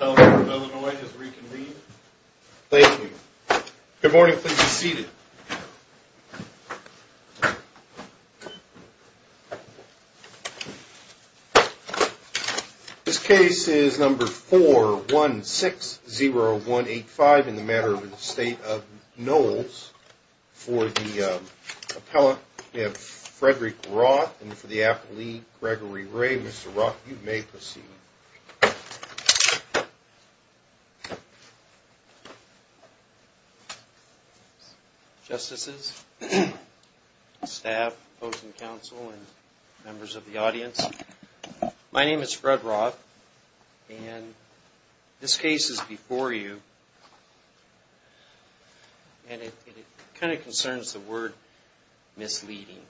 Illinois has reconvened. Thank you. Good morning. Please be seated. This case is number 4160185 in the matter of the Estate of Knowles for the appellate Frederick Roth and for the appellate Gregory Ray. Mr. Roth, you may proceed. Justices, staff, folks in council and members of the audience, my name is Fred Roth and this case is before you and it kind of concerns the word misleading.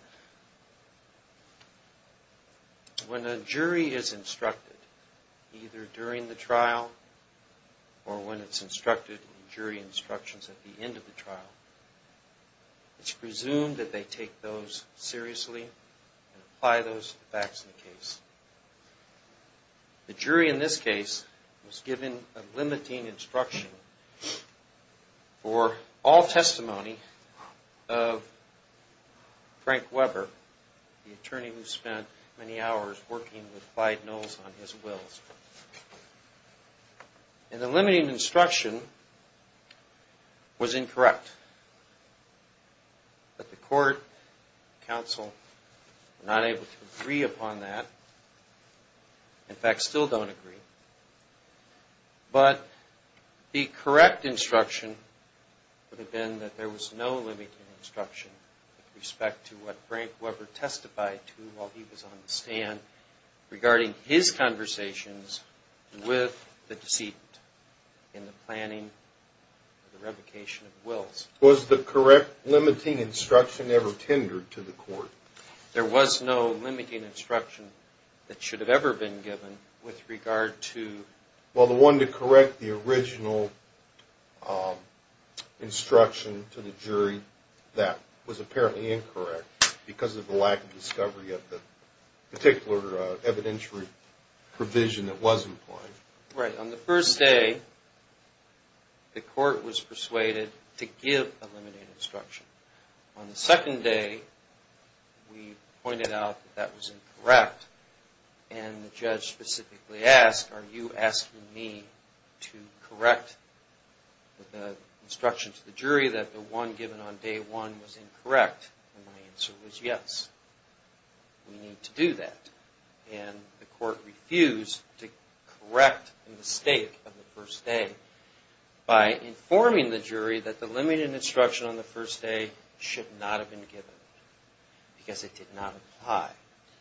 The jury in this case was given a limiting instruction for all testimony of Frank Weber, the attorney who spent many hours working with Clyde Knowles on his wills. And the limiting instruction was incorrect. But the court, council, were not able to agree upon that. In fact, still don't agree. But the correct instruction would have been that there was no limiting instruction with respect to what Frank Weber testified to while he was on the stand regarding his conversations with the deceit in the planning of the revocation of wills. Was the correct limiting instruction ever tendered to the court? There was no limiting instruction that should have ever been given with regard to Well, the one to correct the original instruction to the jury, that was apparently incorrect because of the lack of discovery of the particular evidentiary provision that was implied. Right. On the first day, the court was persuaded to give a limiting instruction. On the second day, we pointed out that was incorrect and the judge specifically asked, are you asking me to correct the instruction to the jury that the one given on day one was incorrect? And my answer was yes. We need to do that. And the court refused to correct the mistake on the first day by informing the jury that the limiting instruction on the first day should not have been given because it did not apply.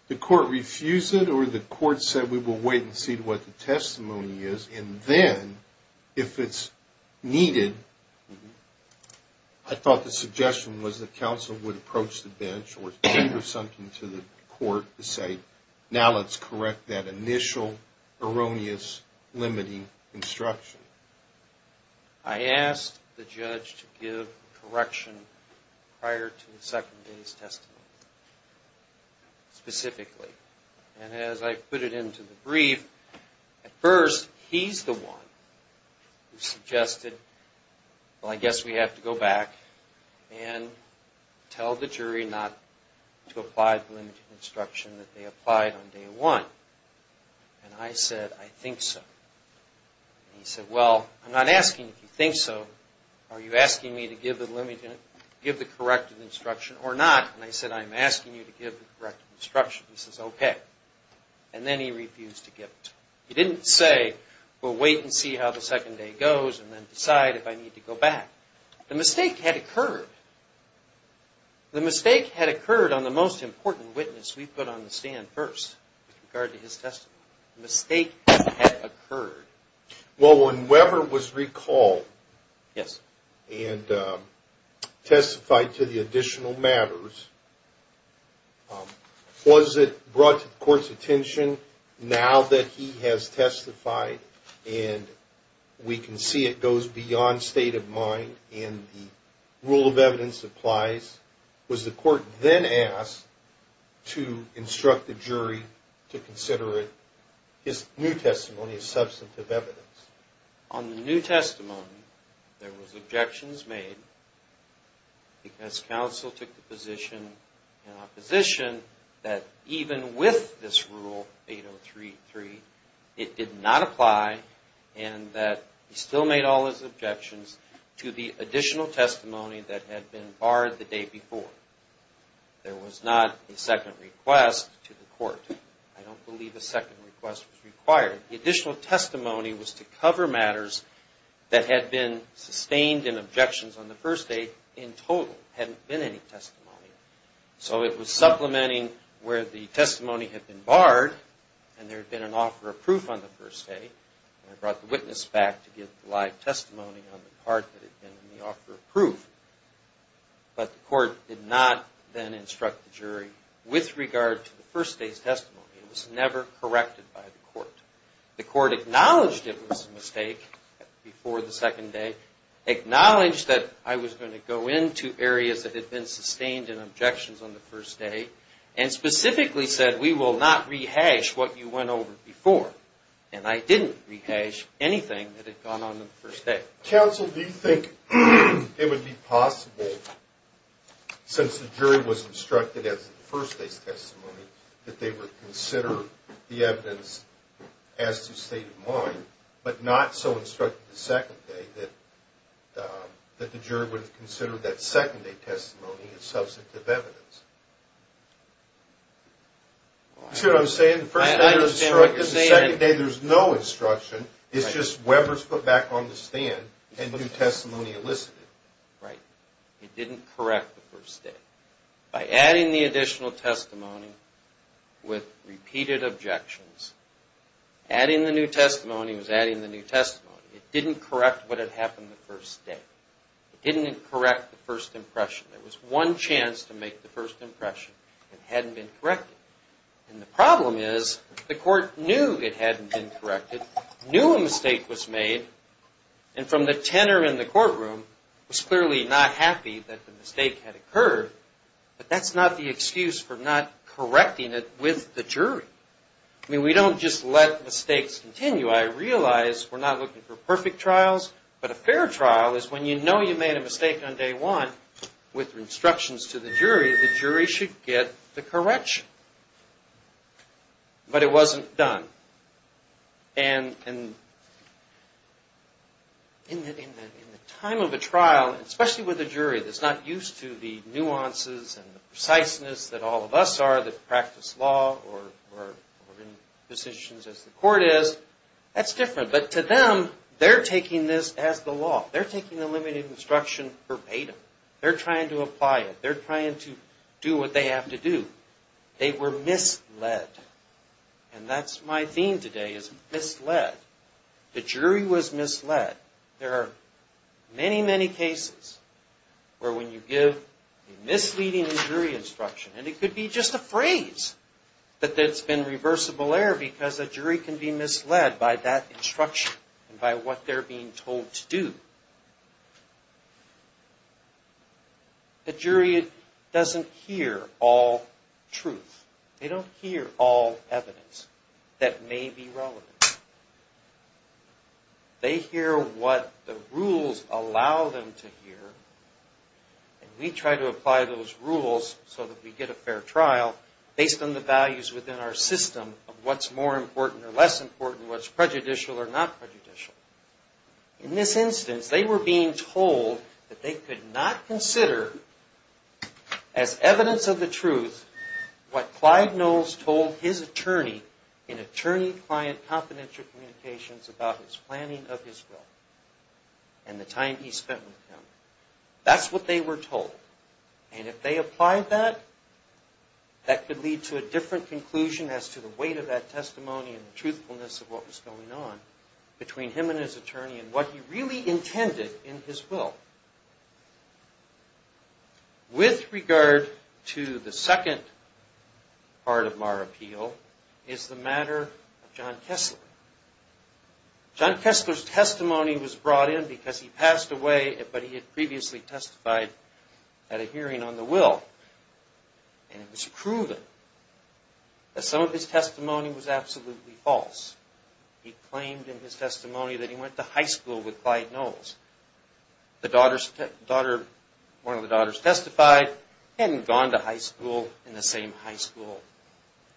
The court refused it or the court said we will wait and see what the testimony is and then, if it's needed, I thought the suggestion was that counsel would approach the bench or send something to the court to say, now let's correct that initial erroneous limiting instruction. I asked the judge to give correction prior to the second day's testimony specifically. And as I put it into the brief, at first, he's the one who suggested, well, I guess we have to go back and tell the jury not to apply the limiting instruction that they applied on day one. And I said, I think so. He said, well, I'm not asking if you think so. Are you asking me to give the corrective instruction or not? And I said, I'm asking you to give the corrective instruction. He says, okay. And then he refused to give it. He didn't say, we'll wait and see how the second day goes and then decide if I need to go back. The mistake had occurred. The mistake had occurred on the most important witness we Well, when Weber was recalled and testified to the additional matters, was it brought to the court's attention now that he has testified and we can see it goes beyond state of mind and the rule of evidence applies? Was the court then asked to On the new testimony, there was objections made because counsel took the position in opposition that even with this rule 8033, it did not apply and that he still made all his objections to the additional testimony that had been barred the day before. There was not a second request to the court. I don't believe a second request was required. The additional testimony was to cover matters that had been sustained in objections on the first day in total. There hadn't been any testimony. So it was supplementing where the testimony had been barred and there had been an offer of proof on the first day. I brought the witness back to give the live testimony on the part that had been in the offer of proof. But the court did not then instruct the jury with regard to the first day's testimony. It was never corrected by the court. The court acknowledged it was a mistake before the second day, acknowledged that I was going to go into areas that had been sustained in objections on the first day and specifically said, we will not rehash what you went over before. And I didn't rehash anything that had gone on on the first day. Counsel, do you think it would be possible since the jury was instructed as to the first day's testimony that they would consider the evidence as to state of mind but not so instructed the second day that the jury would have considered that second day testimony as substantive evidence? That's what I'm saying. The second day there's no instruction. It's just Webber's foot back on the stand and new testimony elicited. Right. It didn't correct the first day. By adding the additional testimony with repeated objections, adding the new testimony was adding the new testimony. It didn't correct what had happened the first day. It didn't correct the first impression. There was one chance to make the first impression it hadn't been corrected. And the problem is the court knew it hadn't been corrected, knew a mistake was made, and from the tenor in the courtroom was clearly not happy that the mistake had occurred. But that's not the excuse for not correcting it with the jury. I mean, we don't just let mistakes continue. I realize we're not looking for perfect trials, but a fair trial is when you know you made a mistake on day one with instructions to the jury, the jury should get the correction. But it wasn't done. And in the time of a trial, especially with a jury that's not used to the nuances and the court is, that's different. But to them, they're taking this as the law. They're taking the limited instruction verbatim. They're trying to apply it. They're trying to do what they have to do. They were misled. And that's my theme today is misled. The jury was misled. There are many, many cases where when you give a misleading jury instruction, and it could be just a phrase that it's been reversible error because a jury can be misled by that instruction and by what they're being told to do, the jury doesn't hear all truth. They don't hear all evidence that may be relevant. They hear what the rules allow them to hear. And we try to apply those rules so that we get a fair trial based on the values within our system of what's more important or less important, what's prejudicial or not prejudicial. In this instance, they were being told that they could not consider as evidence of the truth what Clyde Knowles told his attorney in attorney-client confidential communications about his planning of his will and the time he spent with him. That's what they were told. And if they applied that, that could lead to a different conclusion as to the weight of that testimony and the truthfulness of what was going on between him and his attorney and what he really intended in his will. With regard to the second part of our appeal is the matter of John Kessler. John Kessler's testimony was brought in because he passed away, but he had previously testified at a hearing on the will. And it was proven that some of his testimony was absolutely false. He claimed in his testimony that he went to high school with Clyde Knowles. One of the daughters testified, he hadn't gone to high school in the same high school.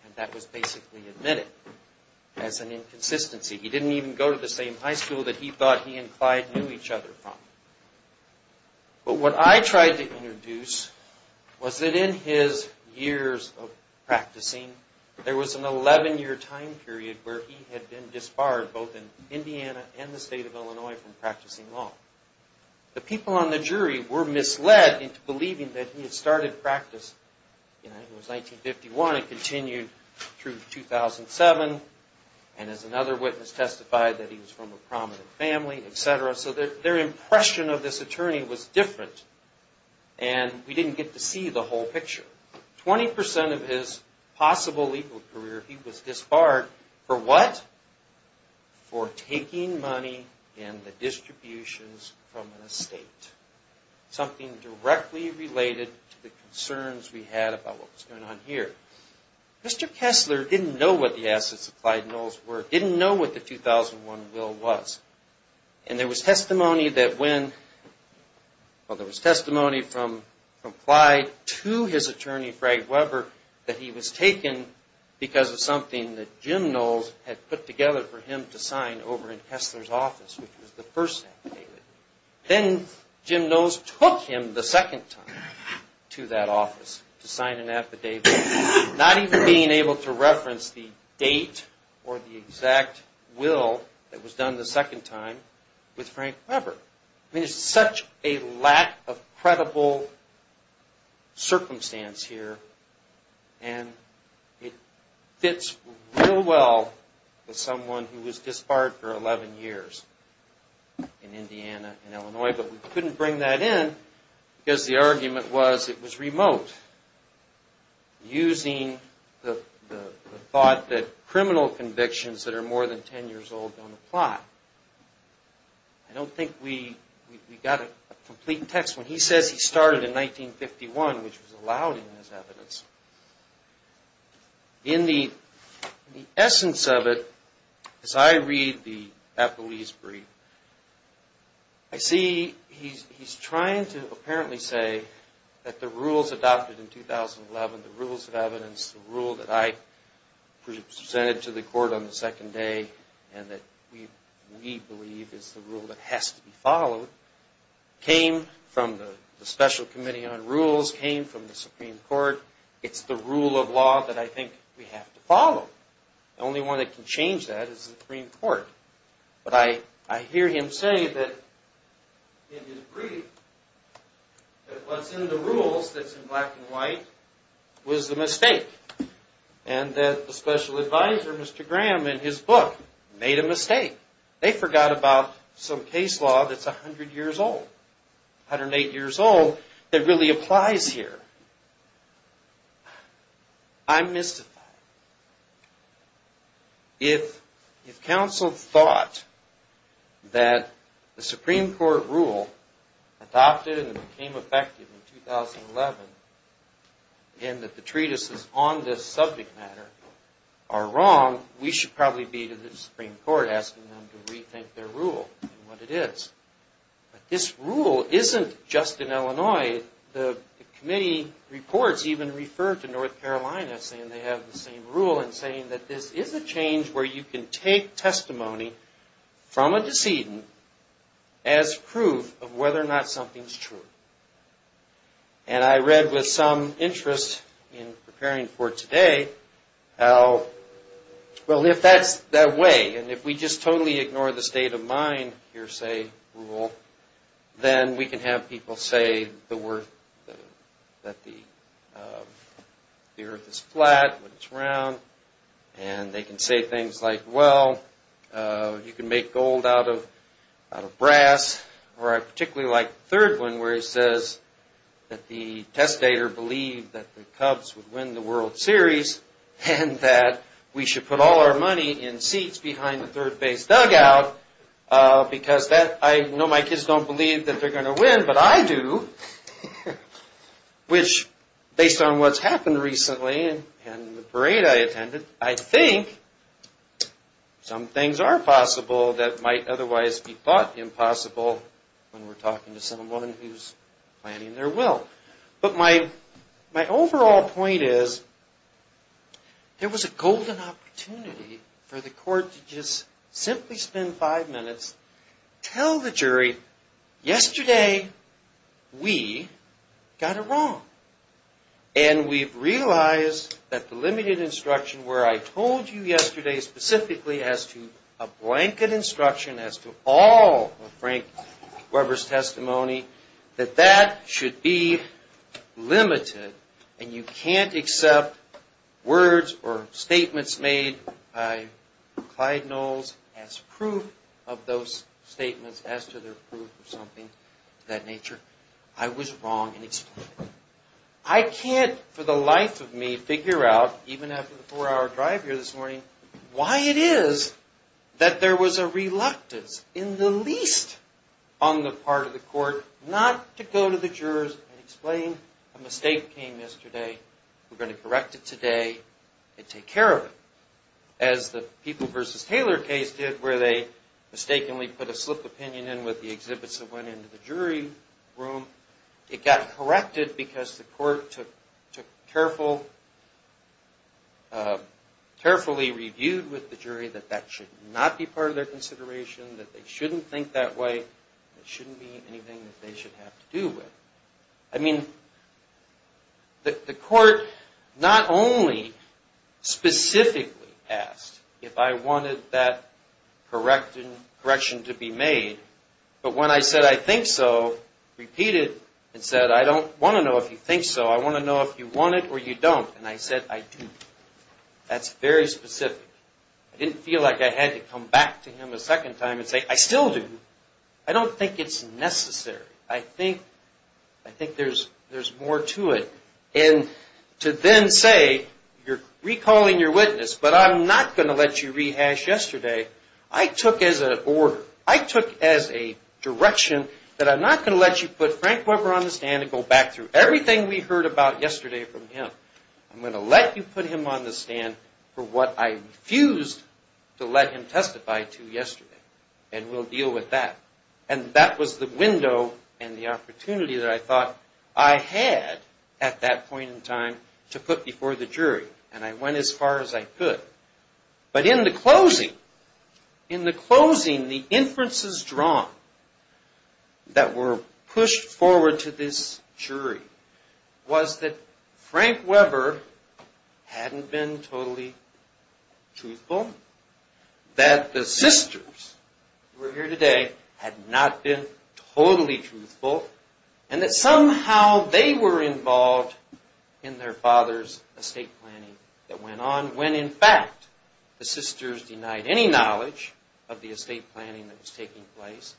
And that was basically admitted as an inconsistency. He didn't even go to the same high school that he thought he and Clyde knew each other from. But what I tried to introduce was that in his years of practicing, there was an 11-year time period where he had been disbarred both in Indiana and the state of Illinois from practicing law. The people on the jury were misled into believing that he had started practice in 1951 and continued through 2007. And as another witness testified, that he was from a prominent family, etc. So their impression of this attorney was different. And we didn't get to see the whole picture. Twenty percent of his possible legal career, he was disbarred for what? For taking money in the distributions from an estate. Something directly related to the concerns we had about what was going on here. Mr. Kessler didn't know what the assets of Clyde Knowles were, didn't know what the 2001 will was. And there was testimony that from Clyde to his attorney, Frank Weber, that he was taken because of something that Jim Knowles had put together for him to sign over in Kessler's office, which was the first affidavit. Then Jim Knowles took him the second time to that office to sign an affidavit, not even being able to reference the date or the exact will that was done the second time with Frank Weber. I mean, it's such a lack of credible circumstance here. And it fits real well with someone who was disbarred for 11 years in Indiana and Illinois. But we couldn't bring that in because the argument was it was remote, using the thought that criminal convictions that are more than 10 years old don't apply. I don't think we got a complete text. When he says he started in 1951, which was allowed in his evidence, in the essence of it, as I read the Applebee's brief, I see he's trying to apparently say that the rule that was presented to the court on the second day, and that we believe is the rule that has to be followed, came from the Special Committee on Rules, came from the Supreme Court. It's the rule of law that I think we have to follow. The only one that can change that is the Supreme Court. But I hear him say that in his brief, that what's in the rules that's in black and white was the mistake. And that the special advisor, Mr. Graham, in his book made a mistake. They forgot about some case law that's 100 years old, 108 years old, that really applies here. I'm mystified. If counsel thought that the Supreme Court rule adopted and became effective in 2011, and that the treatises on this subject matter are wrong, we should probably be to the Supreme Court asking them to rethink their rule and what it is. But this rule isn't just in Illinois. The committee reports even refer to North Carolina saying they have the same rule and saying that this is a change where you can take testimony from a decedent as proof of whether or not something's true. And I read with some interest in preparing for today how well, if that's the way, and if we just totally ignore the state of mind hearsay rule, then we can have people say that the earth is flat when it's round and they can say things like, well, you can make gold out of brass. Or I particularly like the third one where he says that the testator believed that the Cubs would win the World Series and that we should put all our money in seats behind the third base dugout because I know my kids don't believe that they're going to win, but I do. Which, based on what's happened recently and the parade I attended, I think some things are possible that might otherwise be thought impossible when we're talking to someone who's planning their will. But my overall point is there was a golden opportunity for the court to just simply spend five minutes tell the jury, yesterday we got it wrong. And we've realized that the limited instruction where I told you yesterday specifically as to a blanket instruction as to all of Frank Weber's testimony, that that should be made by Clyde Knowles as proof of those statements as to their proof of something of that nature, I was wrong in explaining it. I can't for the life of me figure out, even after the four hour drive here this morning, why it is that there was a reluctance in the least on the part of the court not to go to the jurors and explain a mistake came yesterday, we're going to correct it today, and take care of it. As the People v. Taylor case did where they mistakenly put a slip opinion in with the exhibits that went into the jury room, it got corrected because the court took carefully reviewed with the jury that that should not be part of their consideration, that they shouldn't think that way, it shouldn't be anything that they should have to do with. I mean, the court not only specifically asked if I wanted that correction to be made, but when I said I think so, repeated and said I don't want to know if you think so, I want to know if you want it or you don't, and I said I do. That's very specific. I didn't feel like I had to come back to him a second time and say I still do. I don't think it's necessary. I think there's more to it. And to then say you're recalling your witness, but I'm not going to let you rehash yesterday, I took as an order, I took as a direction that I'm not going to let you put Frank Weber on the stand. I'm going to let you put him on the stand for what I refused to let him testify to yesterday, and we'll deal with that. And that was the window and the opportunity that I thought I had at that point in time to put before the jury, and I went as far as I could. But in the closing, in the closing, the inferences drawn that were pushed forward to this jury was that Frank Weber hadn't been totally truthful, that the sisters who were here today had not been totally truthful, and that somehow they were involved in their father's estate planning that went on, when in fact the sisters denied any knowledge of the estate planning that was taking place,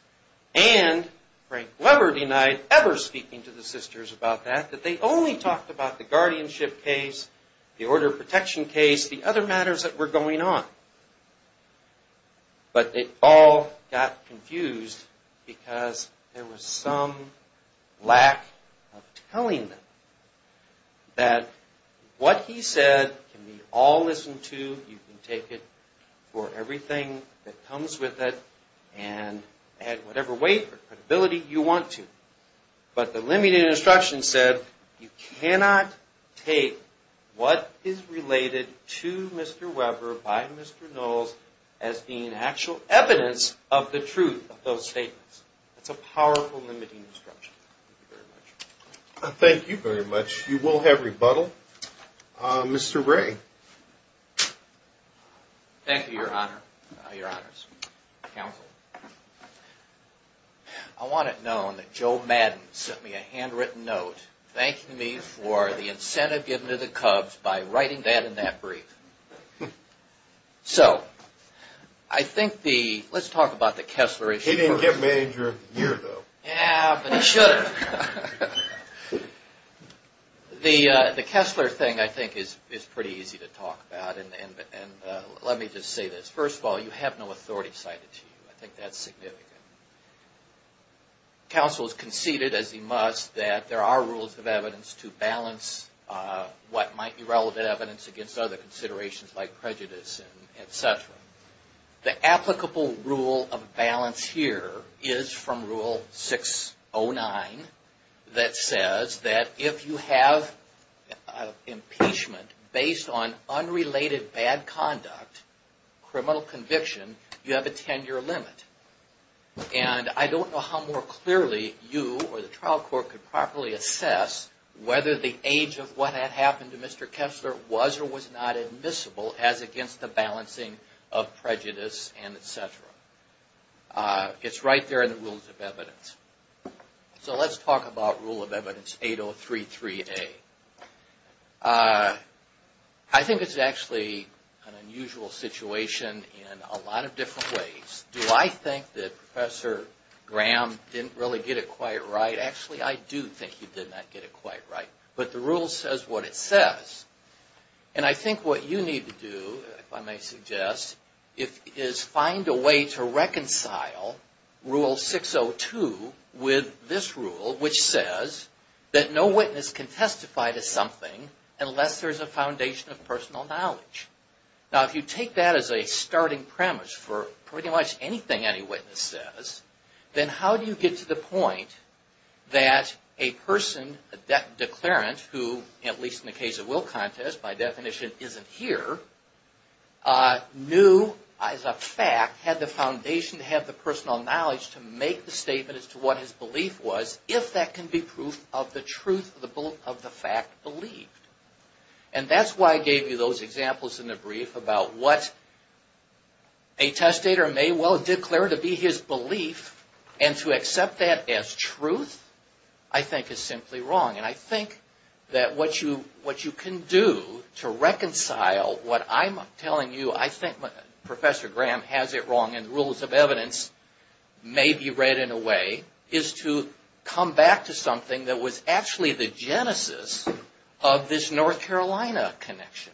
and Frank Weber denied ever speaking to the sisters about that, that they only talked about the guardianship case, the order of protection case, the other matters that were going on. But they all got confused because there was some lack of telling them that what he said can be all listened to, you can take it for everything that comes with it, and add whatever weight or credibility you want to. But the limiting instruction said you cannot take what is related to Mr. Weber by Mr. Knowles as being actual evidence of the truth of those statements. That's a powerful limiting instruction. Thank you very much. You will have rebuttal. Mr. Ray. Thank you, Your Honor. Your Honors. Counsel. I want it known that Joe Madden sent me a handwritten note thanking me for the incentive given to the Cubs by writing that in that brief. So, I think the, let's talk about the Kessler issue. He didn't get major year though. Yeah, but he should have. The Kessler thing I think is pretty easy to talk about, and let me just say this. First of all, you have no authority cited to you. I think that's significant. Counsel has conceded, as he must, that there are rules of evidence to balance what might be relevant evidence against other considerations like prejudice, etc. The applicable rule of balance here is from Rule 609 that says that if you have an impeachment based on unrelated bad conduct, criminal conviction, you have a 10-year limit. And I don't know how more clearly you or the trial court could properly assess whether the age of what had happened to Mr. Kessler was or was not admissible as against the balancing of prejudice, etc. It's right there in the rules of evidence. So, let's talk about Rule of Evidence 8033A. I think it's actually an unusual situation in a lot of different ways. Do I think that Professor Graham didn't really get it quite right? Actually, I do think he did not get it quite right. But the rule says what it says. And I think what you need to do, if I may suggest, is find a way to reconcile Rule 602 with this rule, which says that no person had the foundation of personal knowledge. Now, if you take that as a starting premise for pretty much anything any witness says, then how do you get to the point that a person, a declarant, who at least in the case of Will Contest by definition isn't here, knew as a fact had the foundation to have the personal knowledge to make the statement as to what his belief was if that can be proof of the truth of the fact believed. And that's why I gave you those examples in the brief about what a testator may well declare to be his belief, and to accept that as truth I think is simply wrong. And I think that what you can do to reconcile what I'm telling you, I think Professor Graham has it come back to something that was actually the genesis of this North Carolina connection.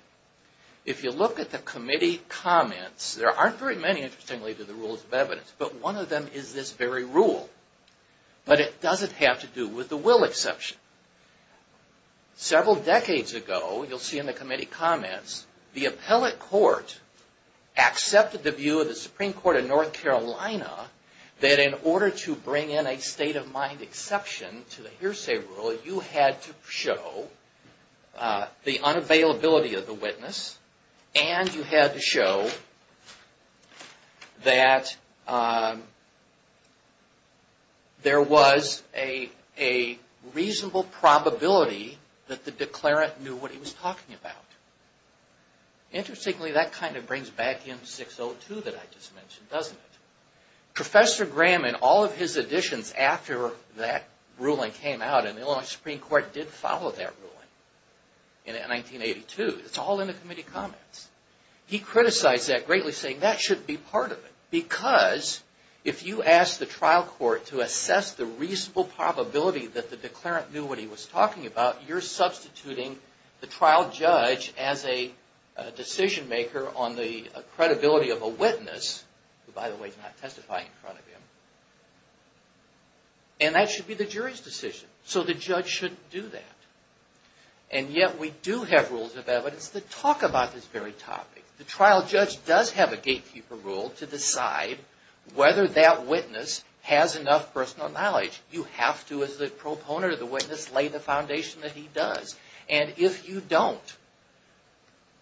If you look at the committee comments, there aren't very many interestingly to the Rules of Evidence, but one of them is this very rule. But it doesn't have to do with the Will Exception. Several decades ago, you'll see in the committee comments, the appellate court accepted the view of the Supreme Court of North Carolina that in order to bring in a state of mind exception to the hearsay rule, you had to show the unavailability of the witness, and you had to show that there was a reasonable probability that the declarant knew what he was talking about. Interestingly, that kind of brings back in 602 that I just mentioned, doesn't it? Professor Graham, in all of his additions after that ruling came out, and the Illinois Supreme Court did follow that ruling in 1982. It's all in the committee comments. He criticized that greatly, saying that shouldn't be part of it. Because if you ask the trial court to assess the reasonable probability that the declarant knew what he was talking about, you're substituting the trial judge as a decision maker on the credibility of a witness, who by the way is not testifying in front of him, and that should be the jury's decision. So the judge shouldn't do that. And yet we do have Rules of Evidence that talk about this very topic. The trial judge does have a gatekeeper rule to decide whether that witness has enough personal knowledge. You have to, as the proponent of the witness, lay the foundation that he does. And if you don't,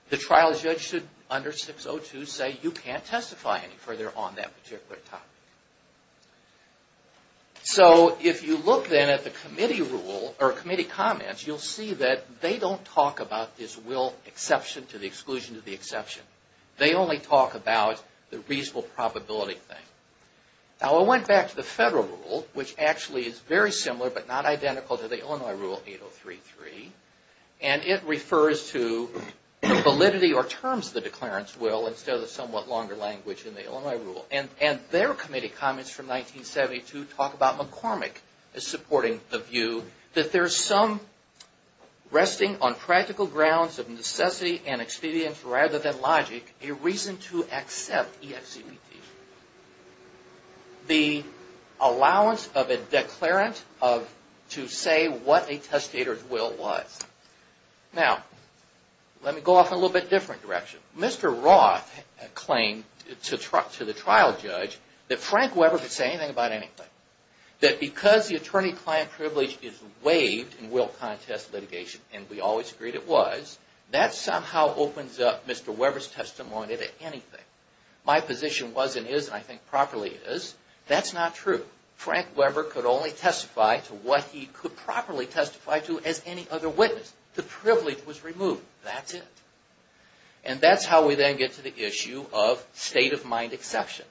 the trial judge should, under 602, say you can't testify any further on that particular topic. So if you look then at the committee rule, or committee comments, you'll see that they don't talk about this will exception to the exclusion to the exception. They only talk about the reasonable probability thing. Now I went back to the federal rule, which actually is very similar but not identical to the Illinois rule, 8033, and it refers to validity or terms of the declarant's will instead of the somewhat longer language in the Illinois rule. And their committee comments from 1972 talk about McCormick as supporting the view that there's some resting on practical grounds of necessity and expedience rather than logic, a reason to accept EXCPT. The allowance of a declarant to say what a testator's will was. Now, let me go off in a little bit different direction. Mr. Roth claimed to the trial judge that Frank Weber could say anything about anything. That because the attorney-client privilege is waived in will contest litigation, and we always agreed it was, that somehow opens up Mr. Weber's testimony to anything. My position was and is, and I think properly is, that's not true. Frank Weber could only testify to what he could properly testify to as any other witness. The privilege was removed. That's it. And that's how we then get to the issue of state-of-mind exception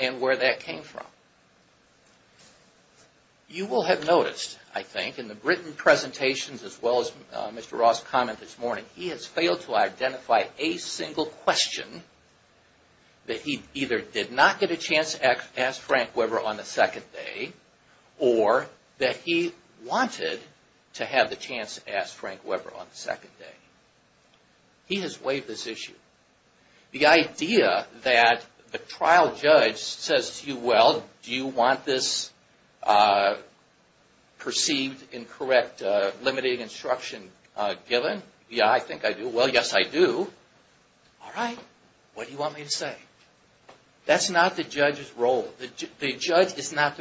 and where that came from. You will have noticed, I think, in the written presentations as well as Mr. Roth's comment this morning, he has failed to identify a single question that he either did not get a chance to ask Frank Weber on the second day or that he wanted to have the chance to ask Frank Weber on the second day. He has waived this issue. The idea that the trial judge says to you, well, do you want this perceived incorrect limiting instruction given? Yeah, I think I do. Well, yes, I do. All right. What do you want me to say? That's not the judge's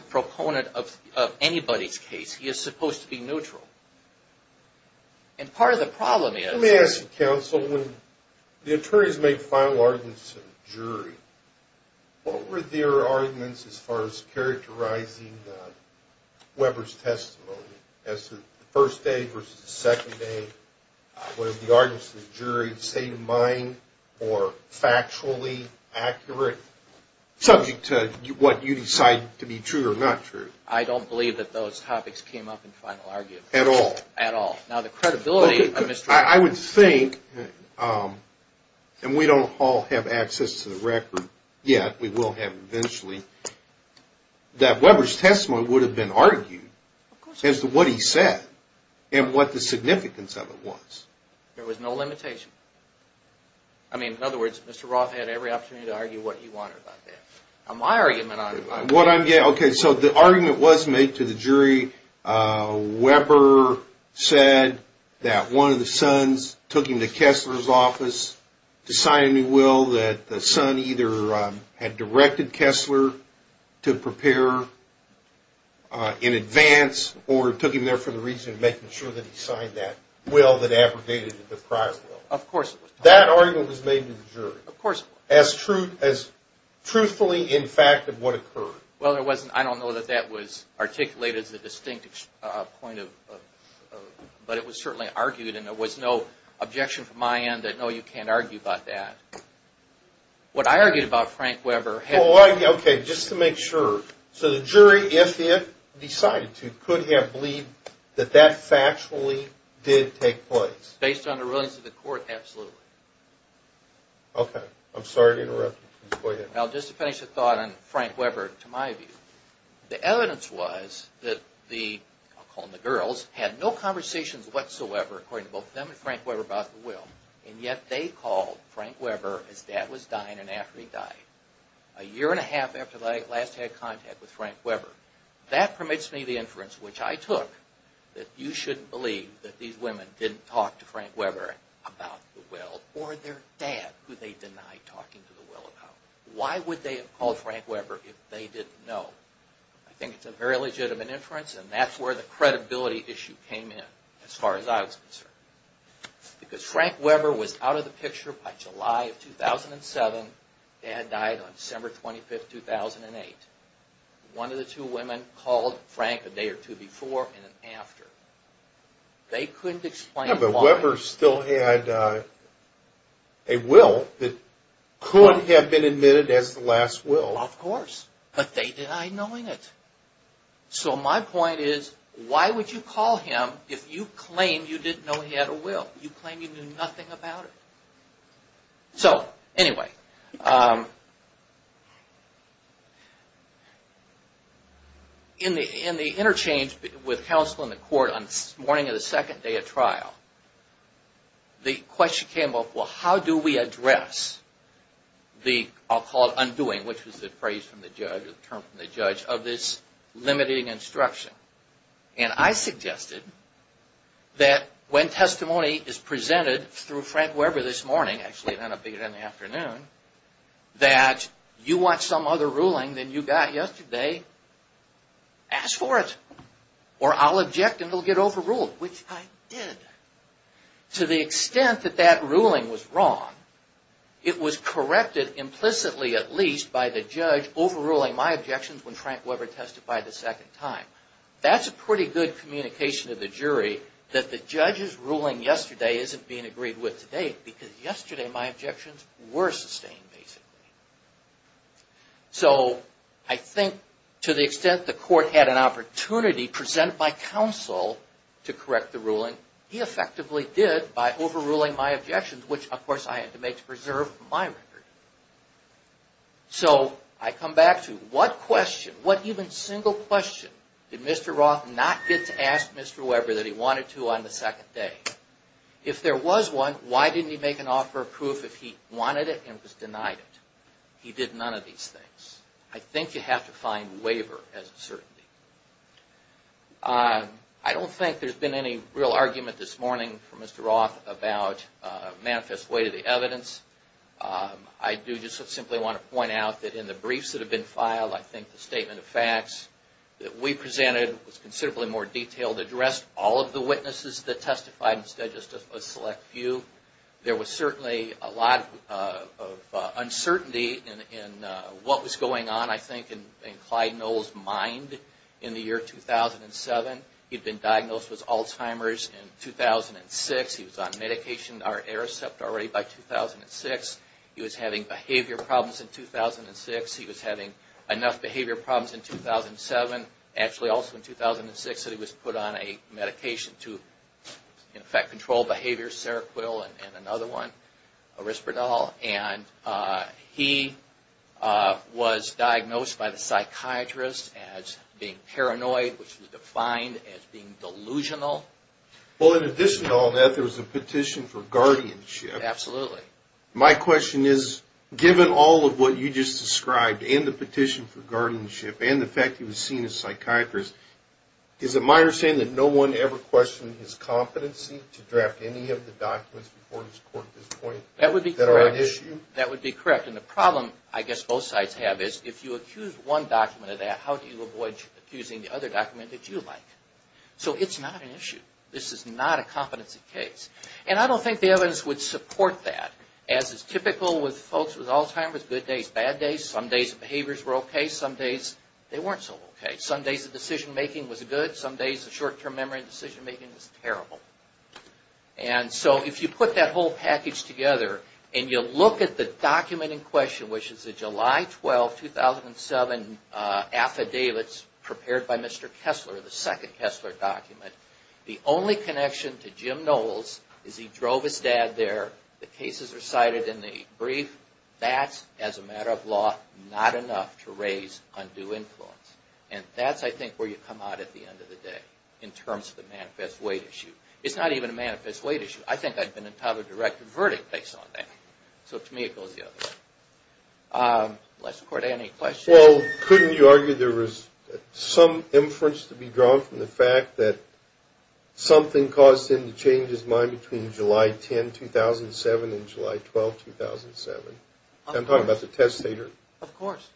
proponent of anybody's case. He is supposed to be neutral. And part of the problem is... Let me ask you, counsel, when the attorneys make final arguments in the jury, what were their arguments as far as characterizing Weber's testimony as to the first day versus the second day? Were the arguments in the jury state-of-mind or you decide to be true or not true? I don't believe that those topics came up in final arguments. At all? At all. Now, the credibility of Mr. Roth... I would think, and we don't all have access to the record yet, we will have eventually, that Weber's testimony would have been argued as to what he said and what the significance of it was. There was no limitation. I mean, in other words, Mr. Roth had every opportunity to argue what he wanted. My argument... Okay, so the argument was made to the jury, Weber said that one of the sons took him to Kessler's office to sign a new will that the son either had directed Kessler to prepare in advance or took him there for the reason of making sure that he signed that will that abrogated the prize will. That argument was made to the jury as truthfully in fact of what occurred. Well, I don't know that that was articulated as a distinct point, but it was certainly argued and there was no objection from my end that no, you can't argue about that. What I argued about Frank Weber... Okay, just to make sure. So the jury, if it decided to, could have believed that that factually did take place? Based on the rulings of the court, absolutely. Okay. I'm sorry to interrupt you. Please go ahead. Now, just to finish the thought on Frank Weber, to my view, the evidence was that the girls had no conversations whatsoever, according to both them and Frank Weber about the will, and yet they called Frank Weber as dad was dying and after he died. A year and a half after they last had contact with Frank Weber. That permits me the inference, which I took, that you shouldn't believe that these women didn't talk to Frank Weber about the will or their dad, who they denied talking to the will about. Why would they have called Frank Weber if they didn't know? I think it's a very legitimate inference and that's where the credibility issue came in, as far as I was concerned. Because Frank Weber was out of the picture by July of 2007. Dad died on December 25, 2008. One of the two women called Frank a day or two before and after. They couldn't explain why... Yeah, but Weber still had a will that could have been admitted as the last will. Well, of course, but they denied knowing it. So my point is, why would you call him if you claim you didn't know he had a will? You claim you knew nothing about it. So, anyway... In the interchange with counsel in the court on the morning of the second day of trial, the question came up, well, how do we address the, I'll call it undoing, which was the phrase from the judge, the term from the judge, of this limiting instruction? And I suggested that when testimony is presented through Frank Weber this morning, actually it ended up being in the afternoon, that you want some other ruling than you got yesterday, ask for it. Or I'll object and it'll get overruled, which I did. To the extent that that ruling was wrong, it was corrected implicitly at least by the judge overruling my objections when Frank Weber testified the second time. That's a pretty good communication to the jury that the judge's ruling yesterday isn't being agreed with today because yesterday my objections were sustained, basically. So, I think to the extent the court had an opportunity presented by counsel to correct the ruling, he effectively did by overruling my objections, which of course I had to make to preserve my record. So, I come back to what question, what even single question, did Mr. Roth not get to ask Mr. Weber that he wanted to on the second day? If there was one, why didn't he make an offer of proof if he wanted it and was denied it? He did none of these things. I think you have to find waiver as a certainty. I don't think there's been any real argument this morning from Mr. Roth about manifest way to the evidence. I do just simply want to point out that in the briefs that have been filed, I think the statement of facts that we presented was considerably more detailed, addressed all of the witnesses that testified instead of just a select few. There was certainly a lot of uncertainty in what was going on, I think, in Clyde Knoll's mind in the year 2007. He'd been diagnosed with Alzheimer's in 2006. He was on medication, or Aricept, already by 2006. He was having behavior problems in 2006. He was having enough behavior problems in 2007. Actually, also in 2006 that he was put on a medication to in effect control behavior, Seroquil, and another one, Arisperdal. He was diagnosed by the psychiatrist as being paranoid, which was defined as being delusional. Well, in addition to all that, there was a petition for guardianship. My question is, given all of what you just described, and the petition for guardianship, and the fact that he was seen as a psychiatrist, is it my understanding that no one ever questioned his competency to draft any of the documents before his court at this point that are an issue? That would be correct. And the problem, I guess both sides have, is if you accuse one document of that, how do you avoid accusing the other document that you like? So it's not an issue. This is not a competency case. And I don't think the evidence would support that. As is typical with folks with Alzheimer's, good days, bad days. Some days the behaviors were okay. Some days they weren't so okay. Some days the decision-making was good. Some days the short-term memory and decision-making was terrible. And so if you put that whole package together and you look at the document in question, which is a July 12, 2007 affidavits prepared by Mr. Kessler, the second Kessler document, the only connection to Jim Knowles is he drove his dad there. The cases are cited in the brief. That's, as a matter of law, not enough to raise undue influence. And that's, I think, where you come out at the end of the day in terms of the manifest weight issue. It's not even a manifest weight issue. I think I'd been entitled to a direct verdict based on that. So to me it goes the other way. Well, couldn't you argue there was some inference to be drawn from the fact that something caused him to change his mind between July 10, 2007 and July 12, 2007? I'm talking about the testator. Of course.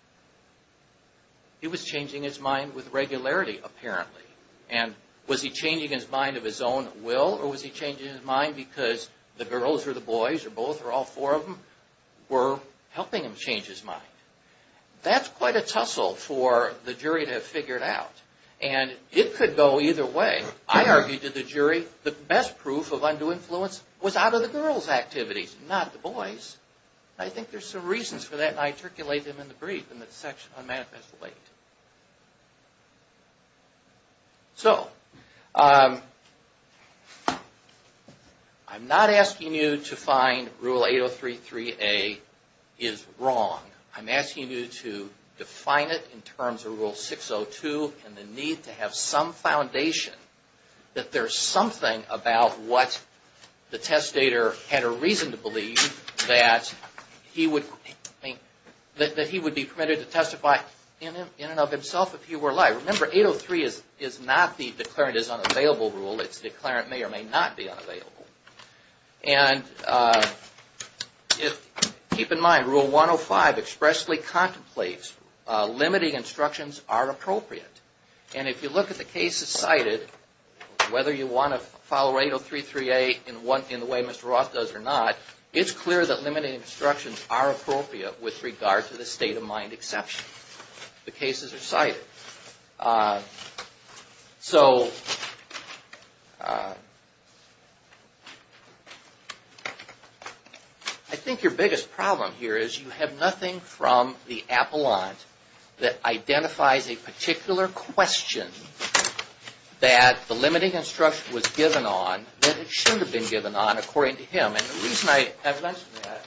He was changing his mind with regularity, apparently. And was he changing his mind of his own will or was he changing his mind because the girls or the boys or both or all four of them were helping him change his mind? That's quite a tussle for the jury to have figured out. And it could go either way. I argued to the jury the best proof of undue influence was out of the girls' activities, not the boys. I think there's some reasons for that and I intercalate them in the brief in the section on manifest weight. I'm not asking you to find Rule 8033A is wrong. I'm asking you to define it in terms of Rule 602 and the need to have some foundation that there's something about what the testator had a reason to believe that he would be permitted to testify in and of himself if he were lying. Remember, 803 is not the declarant is unavailable rule. It's the declarant may or may not be unavailable. Keep in mind, Rule 105 expressly contemplates limiting instructions are appropriate. And if you look at the cases cited, whether you want to follow 8033A in the way Mr. Roth does or not, it's clear that limiting instructions are appropriate with regard to the state of mind exception. The cases are cited. So, I think your biggest problem here is you have nothing from the appellant that identifies a particular question that the limiting instruction was given on that it should have been given on according to him. And the reason I have mentioned that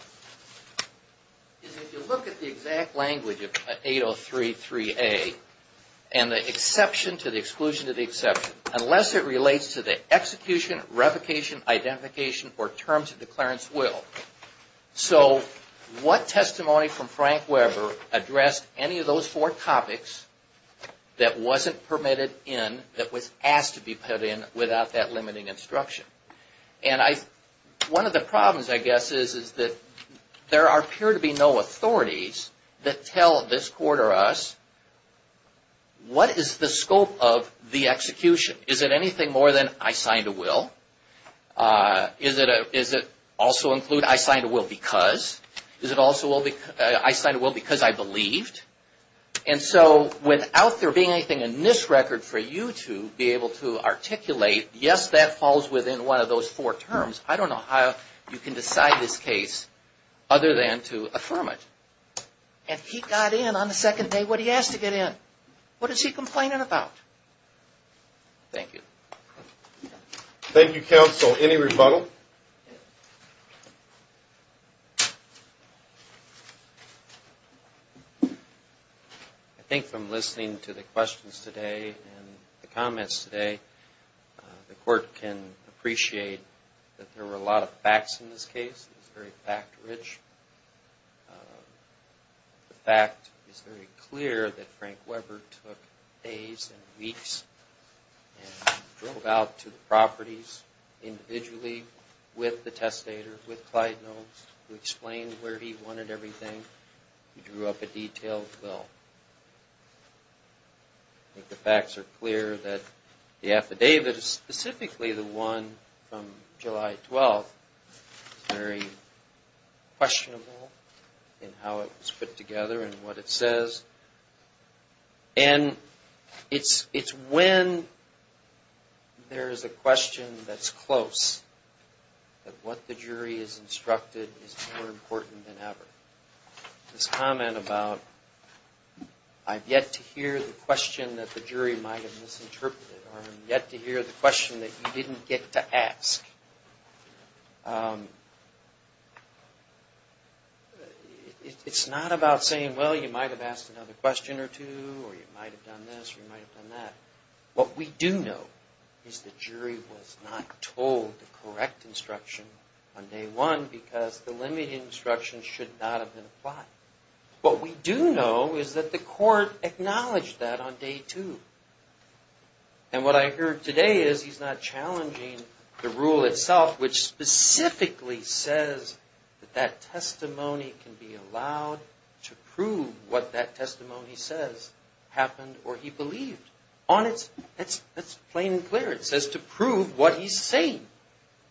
is if you look at the exact language of 8033A and the exception to the exclusion to the exception, unless it relates to the execution, revocation, identification, or terms of declarant's will. So, what testimony from Frank Weber addressed any of those four topics that wasn't permitted in, that was asked to be put in without that limiting instruction. And one of the problems, I guess, is that there appear to be no authorities that tell this court or us what is the scope of the execution. Is it anything more than I signed a will? Is it also include I signed a will because? Is it also I signed a will because I believed? And so, without there being anything in this record for you to be able to articulate, yes, that falls within one of those four terms. I don't know how you can decide this case other than to affirm it. And he got in on the second day when he asked to get in. What is he complaining about? Thank you. Thank you, counsel. Any rebuttal? I think from listening to the questions today and the comments today, the court can appreciate that there were a lot of facts in this case. It was very fact rich. The fact is very clear that Frank Weber took days and weeks and drove out to the properties individually with the testator, with Clyde Knowles, who explained where he wanted everything. He drew up a detailed will. I think the facts are clear that the affidavit, specifically the one from July 12th, is very questionable in how it was put together and what it says. And it's when there is a question that's close that what the jury has instructed is more important than ever. This comment about I've yet to hear the question that the jury might have misinterpreted, or I'm yet to hear the question that you didn't get to ask. It's not about saying, well, you might have asked another question or two, or you might have done this or you might have done that. What we do know is the jury was not told the correct instruction on day one because the limited instruction should not have been applied. What we do know is that the court acknowledged that on day two. And what I heard today is he's not challenging the rule itself, which specifically says that that testimony can be allowed to prove what that testimony says happened or he believed. That's plain and clear. It says to prove what he's saying.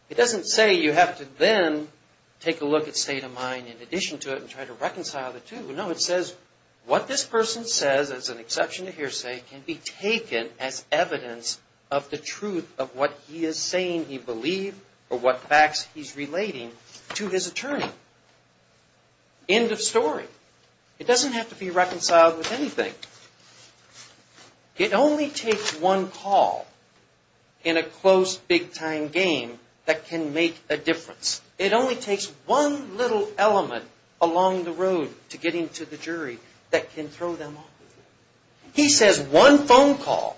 It doesn't say you have to then take a look at state of mind in addition to it and try to reconcile the two. No, it says what this person says, as an exception to hearsay, can be taken as evidence of the truth of what he is saying he believed or what facts he's relating to his attorney. End of story. It doesn't have to be reconciled with anything. It only takes one call in a close big time game that can make a difference. It only takes one little element along the road to get him to the jury that can throw them off. He says one phone call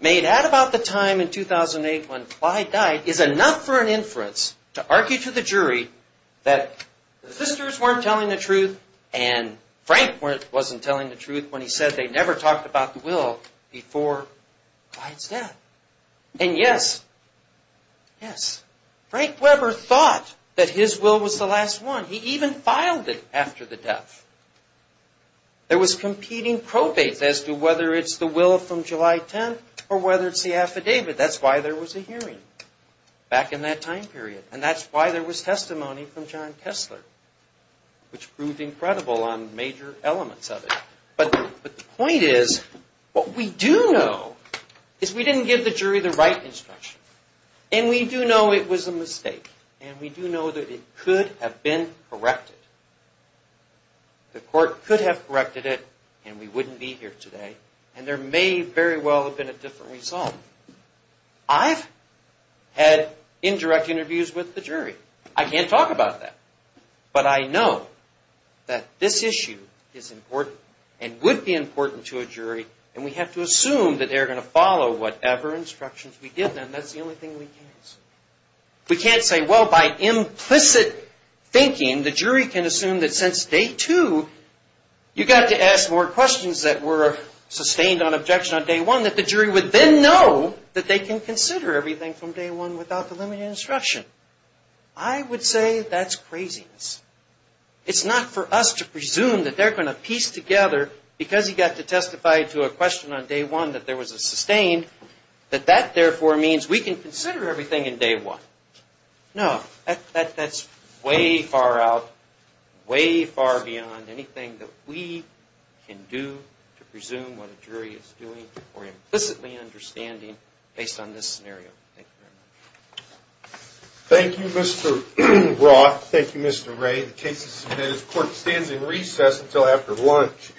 made at about the time in 2008 when Clyde died is enough for an inference to argue to the jury that the sisters weren't telling the truth and Frank wasn't telling the truth when he said they never talked about the will before Clyde's death. And yes, yes, Frank Weber thought that his will was the last one. He even filed it after the death. There was competing probates as to whether it's the will from July 10th or whether it's the affidavit. That's why there was a hearing back in that time period. And that's why there was testimony from John Kessler, which proved incredible on major elements of it. But the point is what we do know is we didn't give the jury the right instruction. And we do know it was a mistake. And we do know that it could have been corrected. The court could have corrected it and we wouldn't be here today. And there may very well have been a different result. I've had indirect interviews with the jury. I can't talk about that. But I know that this issue is important and would be important to a jury. And we have to assume that they're going to follow whatever instructions we give them. That's the only thing we can say. We can't say, well, by implicit thinking, the jury can assume that since day two you got to ask more questions that were sustained on objection on day one that the jury would then know that they can consider everything from day one without the limited instruction. I would say that's craziness. It's not for us to presume that they're going to piece together because he got to testify to a question on day one that there was a sustained that that therefore means we can consider everything in day one. No, that's way far out, way far beyond anything that we can do to presume what a jury is doing or implicitly understanding based on this scenario. Thank you very much. Thank you, Mr. Roth. Thank you, Mr. Ray. The case is submitted. The court stands in recess until after lunch.